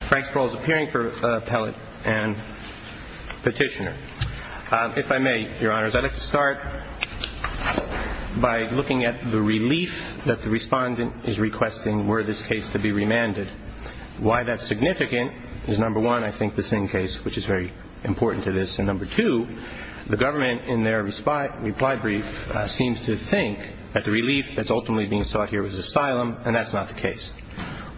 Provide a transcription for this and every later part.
Frank Sproul is appearing for appellate and petitioner. If I may, your honors, I'd like to start by looking at the relief that the respondent is requesting were this case to be remanded. Why that's significant is, number one, I think the Singh case, which is very important to this, and number two, the government in their reply brief seems to think that the relief that's ultimately being sought here is asylum, and that's not the case.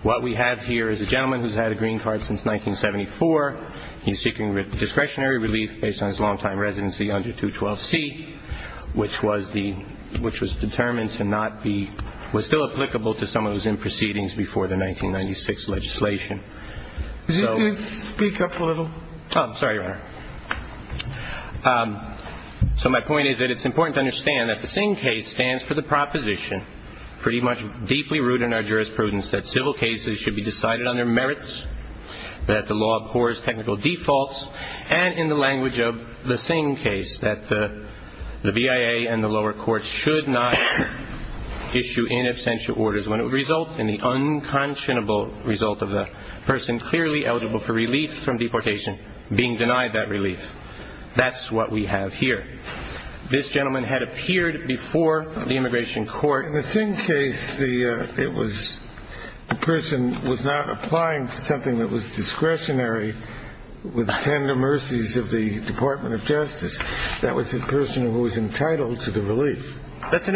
What we have here is a gentleman who's had a green card since 1974. He's seeking discretionary relief based on his long-time residency under 212C, which was determined to not be, was still applicable to some of those in proceedings before the 1996 legislation. Could you speak up a little? Oh, sorry, your honor. So my point is that it's important to understand that the Singh case stands for the proposition, pretty much deeply rooted in our jurisprudence, that civil cases should be decided under merits, that the law abhors technical defaults, and in the language of the Singh case, that the BIA and the lower courts should not issue inabstantial orders when it would result in the unconscionable result of a person clearly eligible for relief from deportation. That's what we have here. This gentleman had appeared before the immigration court. In the Singh case, the person was not applying for something that was discretionary with tender mercies of the Department of Justice. That was the person who was entitled to the relief. That's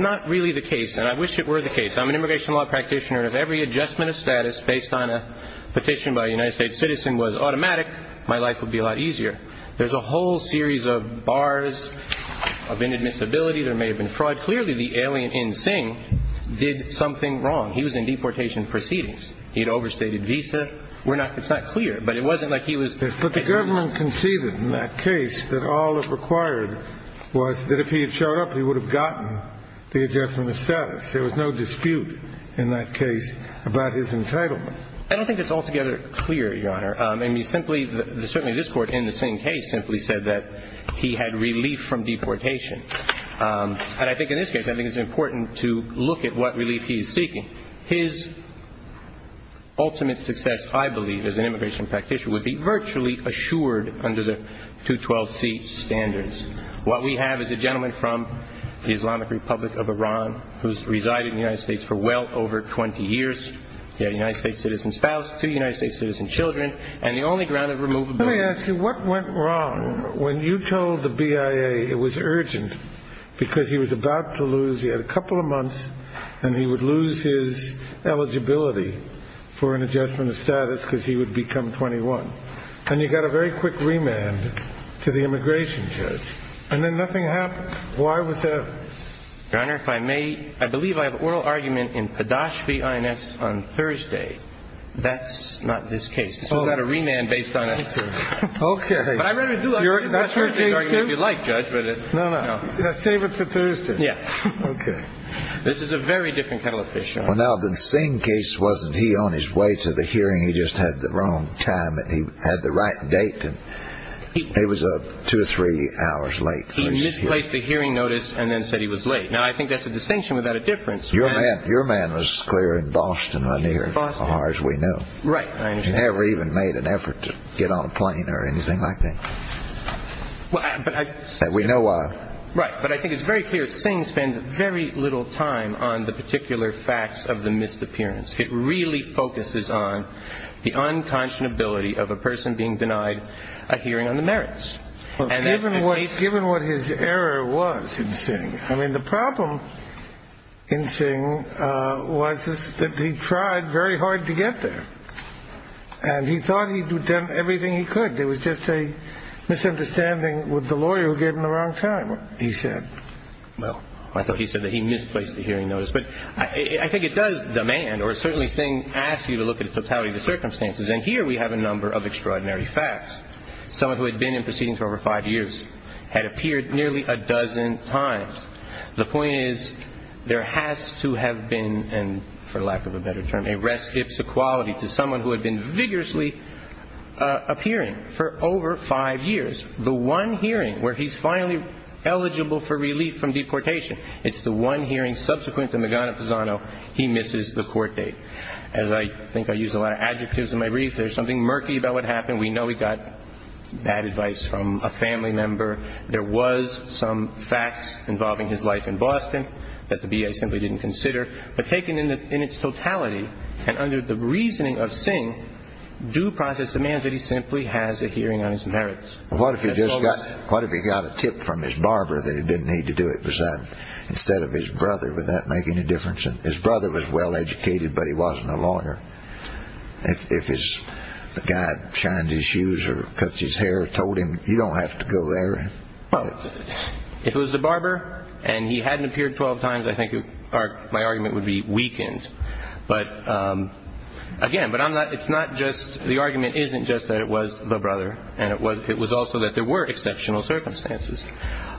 not really the case, and I wish it were the case. I'm an immigration law practitioner, and if every adjustment of status based on a petition by a United States citizen was automatic, my life would be a lot easier. There's a whole series of bars of inadmissibility. There may have been fraud. Clearly, the alien in Singh did something wrong. He was in deportation proceedings. He had overstated visa. It's not clear, but it wasn't like he was – Yes, but the government conceded in that case that all that required was that if he had showed up, he would have gotten the adjustment of status. There was no dispute in that case about his entitlement. I don't think it's altogether clear, Your Honor. I mean, simply – certainly this Court in the Singh case simply said that he had relief from deportation, and I think in this case, I think it's important to look at what relief he's seeking. His ultimate success, I believe, as an immigration practitioner would be virtually assured under the 212C standards. What we have is a gentleman from the Islamic Republic of Iran who's resided in the United States for well over 20 years. He had a United States citizen spouse, two United States citizen children, and the only ground of removability – When you told the BIA it was urgent because he was about to lose – he had a couple of months, and he would lose his eligibility for an adjustment of status because he would become 21, and you got a very quick remand to the immigration judge, and then nothing happened. Why was that? Your Honor, if I may – I believe I have oral argument in Padashvi I.N.S. on Thursday. That's not this case. This is not a remand based on a – Okay. But I'd rather do an oral argument if you'd like, Judge. No, no. Save it for Thursday. Yes. This is a very different kind of fish, Your Honor. Well, now, the Singh case, wasn't he on his way to the hearing? He just had the wrong time. He had the right date, and it was two or three hours late. He misplaced the hearing notice and then said he was late. Now, I think that's a distinction without a difference. Your man was clear in Boston, right here, as far as we know. Right. I understand. He never even made an effort to get on a plane or anything like that. Well, I – And we know why. Right. But I think it's very clear that Singh spends very little time on the particular facts of the misappearance. It really focuses on the unconscionability of a person being denied a hearing on the merits. Well, given what his error was in Singh – I mean, the problem in Singh was that he tried very hard to get there, and he thought he'd done everything he could. There was just a misunderstanding with the lawyer who gave him the wrong time, he said. Well, I thought he said that he misplaced the hearing notice. But I think it does demand, or certainly Singh asks you to look at the totality of the circumstances. And here we have a number of extraordinary facts. Someone who had been in proceedings for over five years had appeared nearly a dozen times. The point is, there has to have been, and for lack of a better term, a rest ipsa quality to someone who had been vigorously appearing for over five years. The one hearing where he's finally eligible for relief from deportation, it's the one hearing subsequent to Magana-Pisano, he misses the court date. As I think I use a lot of adjectives in my briefs, there's something murky about what happened. We know he got bad advice from a family member. There was some facts involving his life in Boston that the BIA simply didn't consider. But taken in its totality, and under the reasoning of Singh, due process demands that he simply has a hearing on his merits. What if he just got – what if he got a tip from his barber that he didn't need to do it? Was that – instead of his brother, would that make any difference? His brother was well-educated, but he wasn't a lawyer. If his guy shines his shoes or cuts his hair or told him, you don't have to go there. Well, if it was the barber and he hadn't appeared 12 times, I think my argument would be weakened. But, again, but I'm not – it's not just – the argument isn't just that it was the brother. And it was also that there were exceptional circumstances.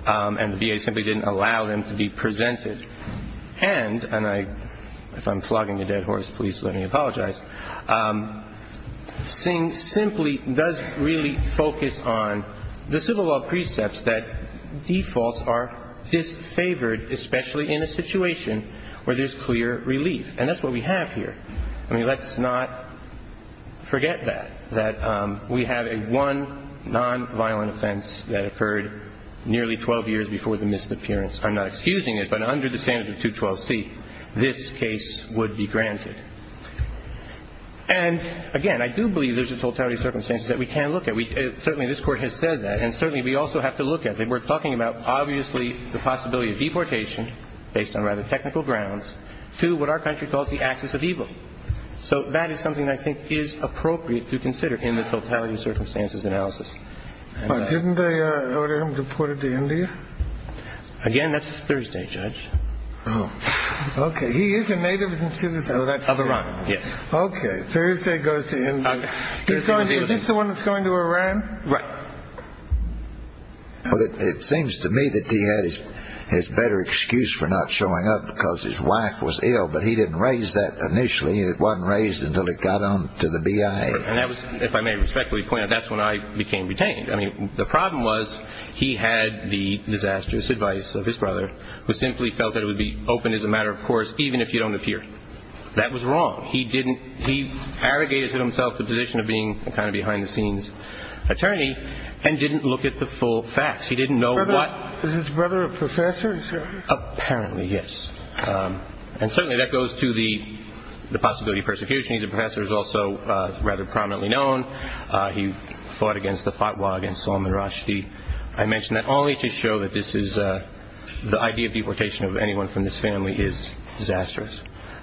And the BIA simply didn't allow them to be presented. And – and I – if I'm flogging a dead horse, please let me apologize – Singh simply does really focus on the civil law precepts that defaults are disfavored, especially in a situation where there's clear relief. And that's what we have here. I mean, let's not forget that, that we have a one nonviolent offense that occurred nearly 12 years before the misappearance. I'm not excusing it, but under the standards of 212C, this case would be granted. And, again, I do believe there's a totality of circumstances that we can look at. Certainly this Court has said that. And certainly we also have to look at it. We're talking about, obviously, the possibility of deportation, based on rather technical grounds, to what our country calls the axis of evil. So that is something I think is appropriate to consider in the totality of circumstances analysis. But didn't they order him deported to India? Again, that's Thursday, Judge. Oh, okay. He is a native citizen of that state. Of Iran, yes. Okay. Thursday goes to India. Is this the one that's going to Iran? Right. Well, it seems to me that he had his better excuse for not showing up because his wife was ill, but he didn't raise that initially. It wasn't raised until it got on to the BIA. And that was, if I may respectfully point out, that's when I became detained. I mean, the problem was he had the disastrous advice of his brother, who simply felt that it would be open as a matter of course even if you don't appear. That was wrong. He didn't – he arrogated to himself the position of being a kind of behind-the-scenes attorney and didn't look at the full facts. He didn't know what – Is his brother a professor? Apparently, yes. And certainly that goes to the possibility of persecution. He's a professor who's also rather prominently known. He fought against the fatwa against Salman Rushdie. I mention that only to show that this is – the idea of deportation of anyone from this family is disastrous.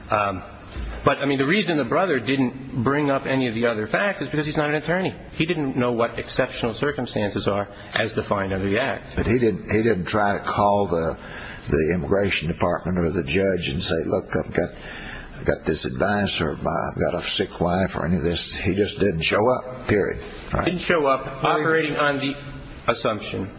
But, I mean, the reason the brother didn't bring up any of the other facts is because he's not an attorney. He didn't know what exceptional circumstances are as defined under the Act. But he didn't try to call the immigration department or the judge and say, look, I've got this advice or I've got a sick wife or any of this. He just didn't show up, period. Didn't show up, operating on the assumption.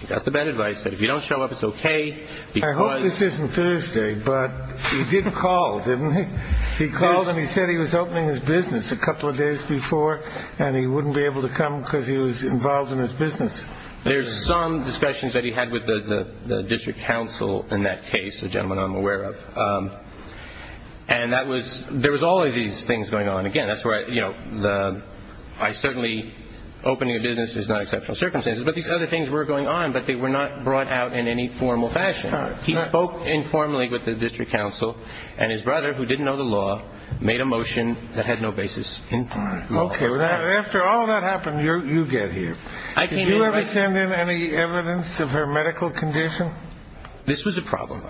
He got the bad advice that if you don't show up, it's okay because – I hope this isn't Thursday, but he did call, didn't he? He called and he said he was opening his business a couple of days before and he wouldn't be able to come because he was involved in his business. There's some discussions that he had with the district council in that case, a gentleman I'm aware of. And that was – there was all of these things going on. Again, that's where, you know, I certainly – opening a business is not exceptional circumstances. But these other things were going on, but they were not brought out in any formal fashion. He spoke informally with the district council and his brother, who didn't know the law, made a motion that had no basis in law. Okay. After all that happened, you get here. Did you ever send in any evidence of her medical condition? This was a problem.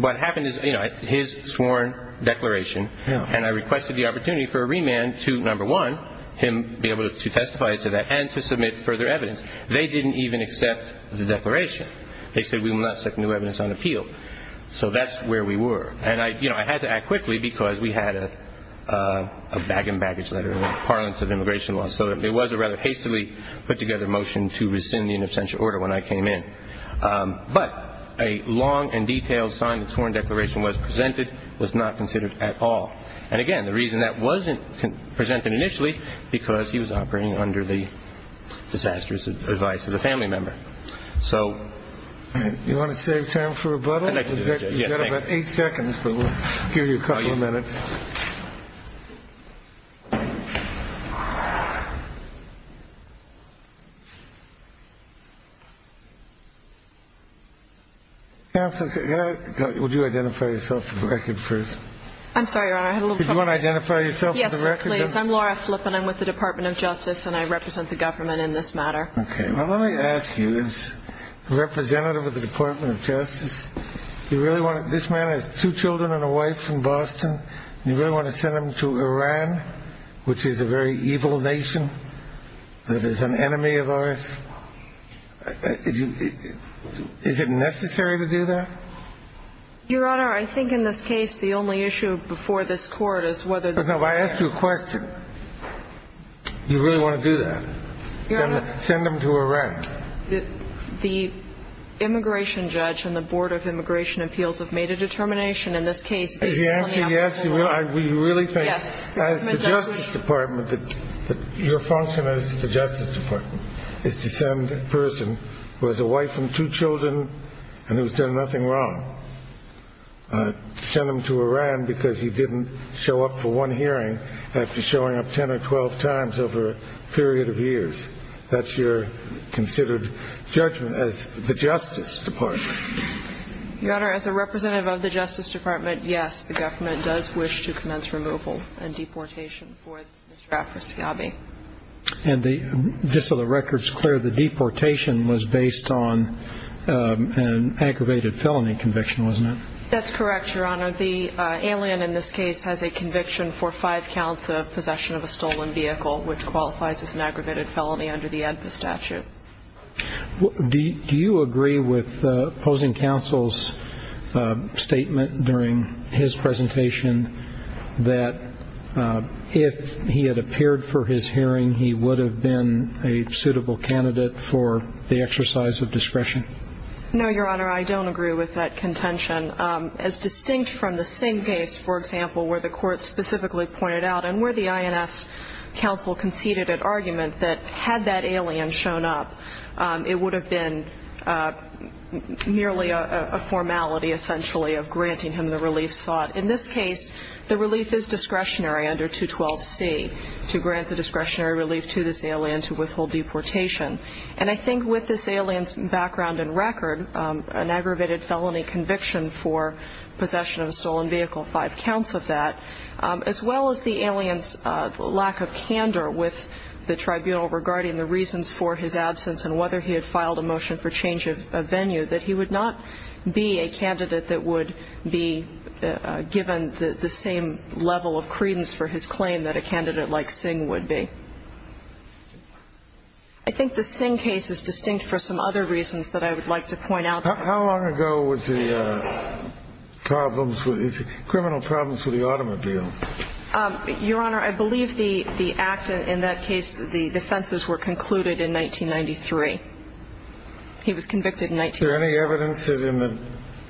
What happened is, you know, his sworn declaration, and I requested the opportunity for a remand to, number one, him be able to testify to that and to submit further evidence. They didn't even accept the declaration. They said we will not set new evidence on appeal. So that's where we were. And, you know, I had to act quickly because we had a bag-and-baggage letter, parlance of immigration law. So it was a rather hastily put-together motion to rescind the unofficial order when I came in. But a long and detailed sign that a sworn declaration was presented was not considered at all. And, again, the reason that wasn't presented initially, because he was operating under the disastrous advice of the family member. So – You want to save time for rebuttal? I'd like to do it, Judge. You've got about eight seconds, but we'll give you a couple of minutes. Counsel, would you identify yourself for the record first? I'm sorry, Your Honor, I had a little trouble. Do you want to identify yourself for the record? Yes, sir, please. I'm Laura Flippen. I'm with the Department of Justice, and I represent the government in this matter. Okay. Well, let me ask you, as representative of the Department of Justice, do you really want to – this man has two children and a wife from Boston. Do you really want to send them to Iran, which is a very evil nation that is an enemy of ours? Is it necessary to do that? Your Honor, I think in this case the only issue before this Court is whether – No, but I asked you a question. Do you really want to do that, send them to Iran? The immigration judge and the Board of Immigration Appeals have made a determination in this case – The answer is yes. We really think, as the Justice Department, that your function as the Justice Department is to send a person who has a wife and two children and who has done nothing wrong, send them to Iran because he didn't show up for one hearing after showing up 10 or 12 times over a period of years. That's your considered judgment as the Justice Department. Your Honor, as a representative of the Justice Department, yes, the government does wish to commence removal and deportation for Mr. Afrasiabi. And just so the record's clear, the deportation was based on an aggravated felony conviction, wasn't it? That's correct, Your Honor. The alien in this case has a conviction for five counts of possession of a stolen vehicle, which qualifies as an aggravated felony under the ADPA statute. Do you agree with opposing counsel's statement during his presentation that if he had appeared for his hearing, he would have been a suitable candidate for the exercise of discretion? No, Your Honor, I don't agree with that contention. As distinct from the same case, for example, where the court specifically pointed out and where the INS counsel conceded an argument that had that alien shown up, it would have been merely a formality essentially of granting him the relief sought. In this case, the relief is discretionary under 212C, to grant the discretionary relief to this alien to withhold deportation. And I think with this alien's background and record, an aggravated felony conviction for possession of a stolen vehicle, five counts of that, as well as the alien's lack of candor with the tribunal regarding the reasons for his absence and whether he had filed a motion for change of venue, that he would not be a candidate that would be given the same level of credence for his claim that a candidate like Singh would be. I think the Singh case is distinct for some other reasons that I would like to point out. How long ago was the criminal problems with the automobile? Your Honor, I believe the act in that case, the offenses were concluded in 1993. He was convicted in 1993. Is there any evidence that in the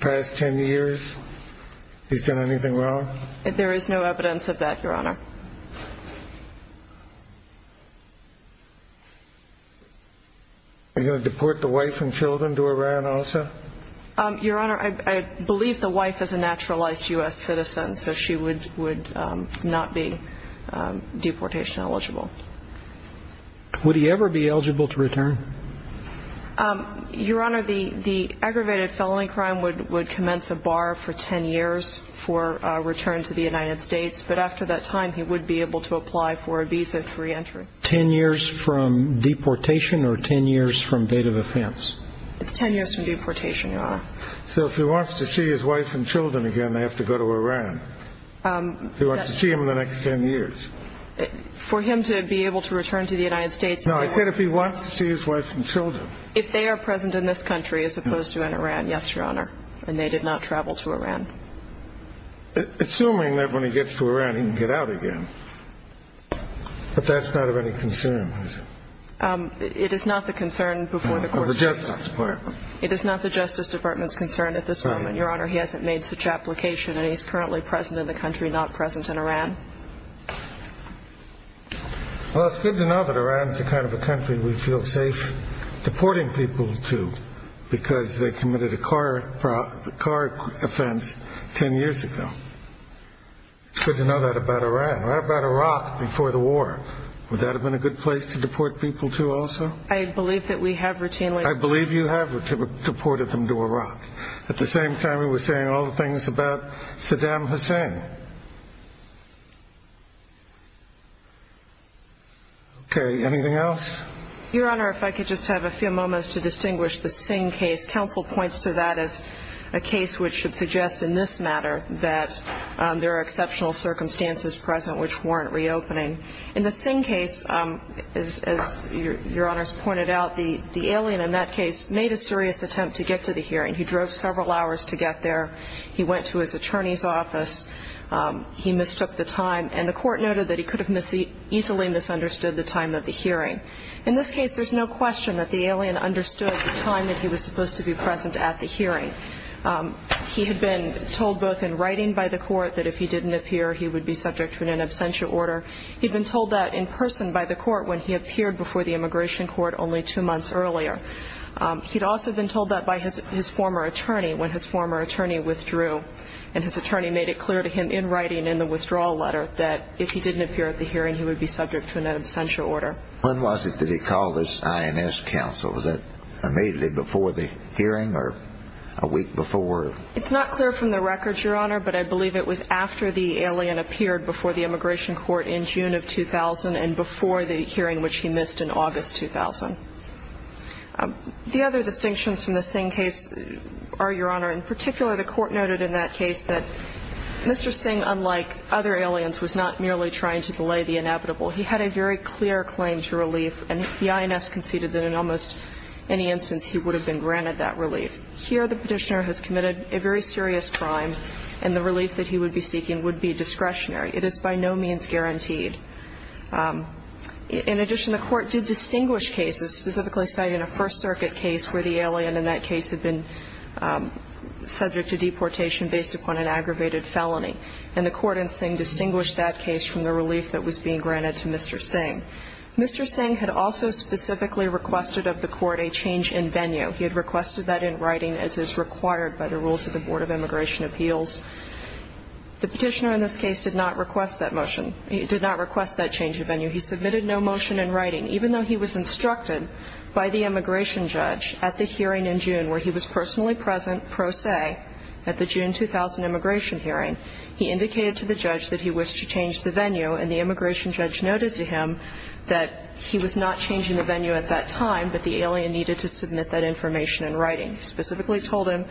past 10 years he's done anything wrong? There is no evidence of that, Your Honor. Are you going to deport the wife and children to Iran also? Your Honor, I believe the wife is a naturalized U.S. citizen, so she would not be deportation eligible. Would he ever be eligible to return? Your Honor, the aggravated felony crime would commence a bar for 10 years for return to the United States, but after that time he would be able to apply for a visa for reentry. Ten years from deportation or 10 years from date of offense? It's 10 years from deportation, Your Honor. So if he wants to see his wife and children again, they have to go to Iran? If he wants to see them in the next 10 years? For him to be able to return to the United States. No, I said if he wants to see his wife and children. If they are present in this country as opposed to in Iran, yes, Your Honor, and they did not travel to Iran. Assuming that when he gets to Iran he can get out again, but that's not of any concern, is it? It is not the concern before the courts. Of the Justice Department. It is not the Justice Department's concern at this moment, Your Honor. He hasn't made such application and he's currently present in the country, not present in Iran. Well, it's good to know that Iran is the kind of a country we feel safe deporting people to because they committed a car offense 10 years ago. It's good to know that about Iran. What about Iraq before the war? Would that have been a good place to deport people to also? I believe that we have routinely. I believe you have deported them to Iraq. At the same time, we were saying all the things about Saddam Hussein. Okay, anything else? Your Honor, if I could just have a few moments to distinguish the Singh case. Counsel points to that as a case which should suggest in this matter that there are exceptional circumstances present which weren't reopening. In the Singh case, as Your Honor has pointed out, the alien in that case made a serious attempt to get to the hearing. He drove several hours to get there. He went to his attorney's office. He mistook the time. And the court noted that he could have easily misunderstood the time of the hearing. In this case, there's no question that the alien understood the time that he was supposed to be present at the hearing. He had been told both in writing by the court that if he didn't appear, he would be subject to an absentia order. He'd been told that in person by the court when he appeared before the immigration court only two months earlier. He'd also been told that by his former attorney when his former attorney withdrew. And his attorney made it clear to him in writing in the withdrawal letter that if he didn't appear at the hearing, he would be subject to an absentia order. When was it that he called this INS counsel? Was that immediately before the hearing or a week before? It's not clear from the records, Your Honor, but I believe it was after the alien appeared before the immigration court in June of 2000 and before the hearing which he missed in August 2000. The other distinctions from the Singh case are, Your Honor, in particular, the court noted in that case that Mr. Singh, unlike other aliens, was not merely trying to belay the inevitable. He had a very clear claim to relief, and the INS conceded that in almost any instance he would have been granted that relief. Here, the Petitioner has committed a very serious crime, and the relief that he would be seeking would be discretionary. It is by no means guaranteed. In addition, the court did distinguish cases, specifically citing a First Circuit case where the alien in that case had been subject to deportation based upon an aggravated felony. And the court in Singh distinguished that case from the relief that was being granted to Mr. Singh. Mr. Singh had also specifically requested of the court a change in venue. He had requested that in writing as is required by the rules of the Board of Immigration Appeals. The Petitioner in this case did not request that motion. He did not request that change of venue. He submitted no motion in writing, even though he was instructed by the immigration judge at the hearing in June where he was personally present pro se at the June 2000 immigration hearing. He indicated to the judge that he wished to change the venue, and the immigration judge noted to him that he was not changing the venue at that time, but the alien needed to submit that information in writing. He specifically told him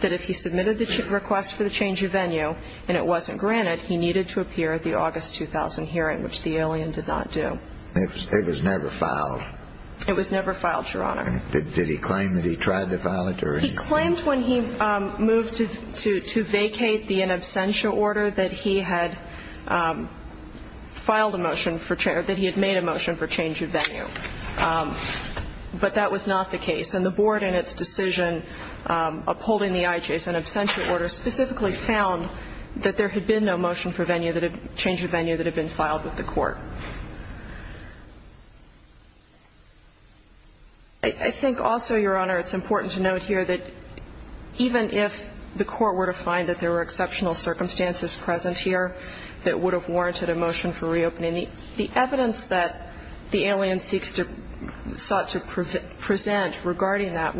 that if he submitted the request for the change of venue and it wasn't granted, he needed to appear at the August 2000 hearing, which the alien did not do. It was never filed? It was never filed, Your Honor. Did he claim that he tried to file it? He claimed when he moved to vacate the in absentia order that he had filed a motion for change, or that he had made a motion for change of venue, but that was not the case. And the board in its decision upholding the IJAS in absentia order specifically found that there had been no motion for change of venue that had been filed with the court. I think also, Your Honor, it's important to note here that even if the court were to find that there were exceptional circumstances present here that would have warranted a motion for reopening, the evidence that the alien sought to present regarding that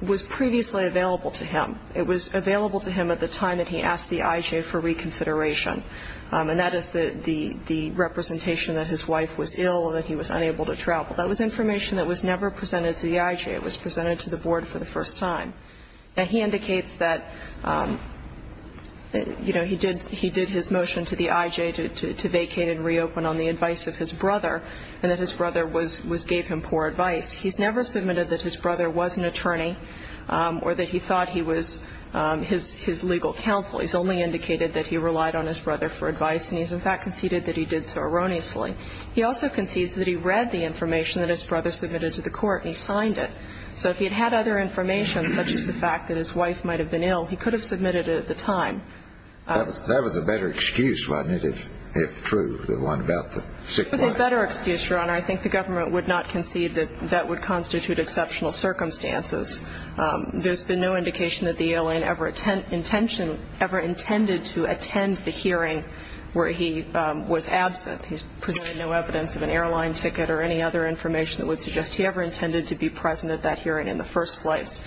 was previously available to him. It was available to him at the time that he asked the IJ for reconsideration, and that is the representation that his wife was ill and that he was unable to travel. That was information that was never presented to the IJ. It was presented to the board for the first time. Now, he indicates that, you know, he did his motion to the IJ to vacate and reopen on the advice of his brother and that his brother gave him poor advice. He's never submitted that his brother was an attorney or that he thought he was his legal counsel. He's only indicated that he relied on his brother for advice, and he's, in fact, conceded that he did so erroneously. He also concedes that he read the information that his brother submitted to the court and he signed it. So if he had had other information, such as the fact that his wife might have been ill, he could have submitted it at the time. That was a better excuse, wasn't it, if true, the one about the sick boy? It was a better excuse, Your Honor. I think the government would not concede that that would constitute exceptional circumstances. There's been no indication that the alien ever intended to attend the hearing where he was absent. He's presented no evidence of an airline ticket or any other information that would suggest he ever intended to be present at that hearing in the first place.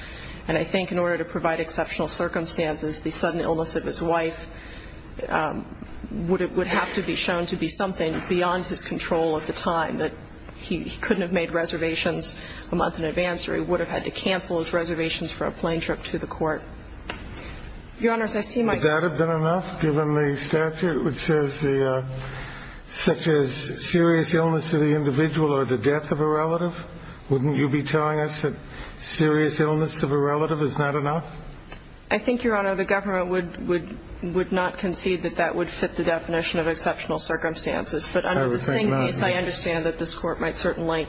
And I think in order to provide exceptional circumstances, the sudden illness of his wife would have to be shown to be something beyond his control at the time, that he couldn't have made reservations a month in advance or he would have had to cancel his reservations for a plane trip to the court. Your Honors, I see my question. Would that have been enough given the statute which says such as serious illness of the individual or the death of a relative? Wouldn't you be telling us that serious illness of a relative is not enough? I think, Your Honor, the government would not concede that that would fit the definition of exceptional circumstances. But under the same case, I understand that this Court might certainly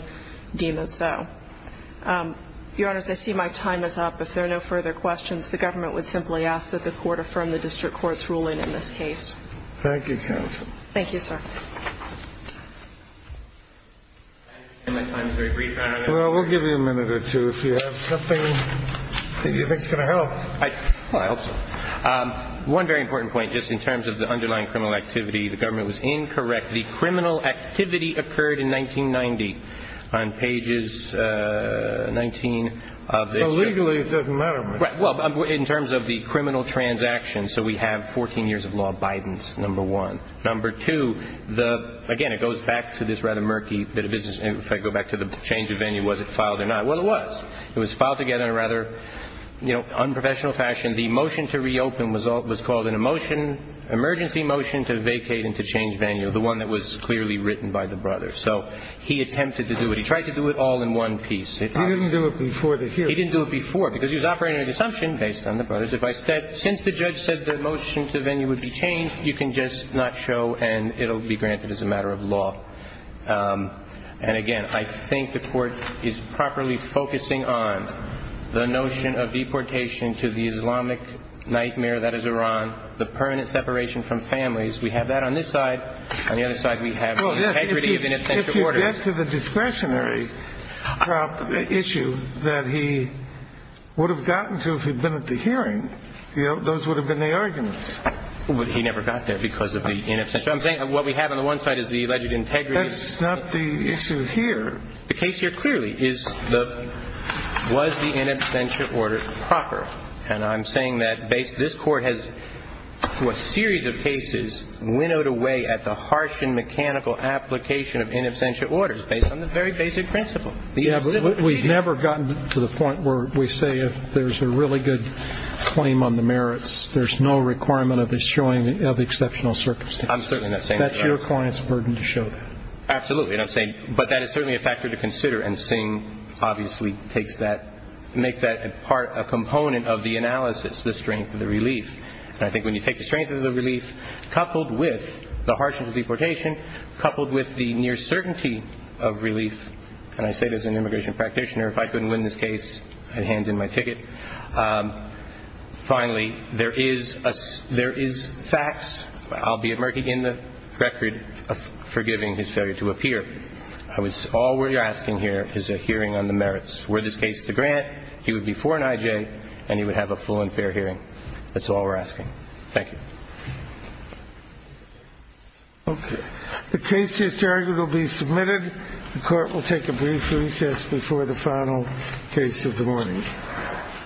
deem it so. Your Honors, I see my time is up. If there are no further questions, the government would simply ask that the Court affirm the district court's ruling in this case. Thank you, counsel. Thank you, sir. My time is very brief, Your Honor. Well, we'll give you a minute or two if you have something that you think is going to help. Well, I hope so. One very important point, just in terms of the underlying criminal activity, the government was incorrect. The criminal activity occurred in 1990 on pages 19 of this. Well, legally it doesn't matter much. Right. Well, in terms of the criminal transactions, so we have 14 years of law abidance, number one. Number two, again, it goes back to this rather murky bit of business. If I go back to the change of venue, was it filed or not? Well, it was. It was filed together in a rather, you know, unprofessional fashion. The motion to reopen was called an emergency motion to vacate and to change venue, the one that was clearly written by the brothers. So he attempted to do it. He tried to do it all in one piece. He didn't do it before the hearing. He didn't do it before because he was operating under the assumption, based on the brothers, that since the judge said the motion to venue would be changed, you can just not show and it will be granted as a matter of law. And, again, I think the Court is properly focusing on the notion of deportation to the Islamic nightmare that is Iran, the permanent separation from families. We have that on this side. On the other side, we have the integrity of in absentia orders. Well, yes, if you get to the discretionary issue that he would have gotten to if he'd been at the hearing, those would have been the arguments. But he never got there because of the in absentia. So I'm saying what we have on the one side is the alleged integrity. That's not the issue here. The case here clearly was the in absentia order proper. And I'm saying that this Court has, through a series of cases, winnowed away at the harsh and mechanical application of in absentia orders based on the very basic principle. We've never gotten to the point where we say if there's a really good claim on the merits, there's no requirement of his showing of exceptional circumstances. That's your client's burden to show that. Absolutely. But that is certainly a factor to consider, and Singh obviously makes that a component of the analysis, the strength of the relief. And I think when you take the strength of the relief coupled with the harshness of deportation, coupled with the near certainty of relief, and I say this as an immigration practitioner, if I couldn't win this case, I'd hand in my ticket. Finally, there is facts. I'll be emerging in the record forgiving his failure to appear. All we're asking here is a hearing on the merits. Were this case the grant, he would be for an I.J. and he would have a full and fair hearing. That's all we're asking. Thank you. Okay. The case is charged to be submitted. The Court will take a brief recess before the final case of the morning. Thank you.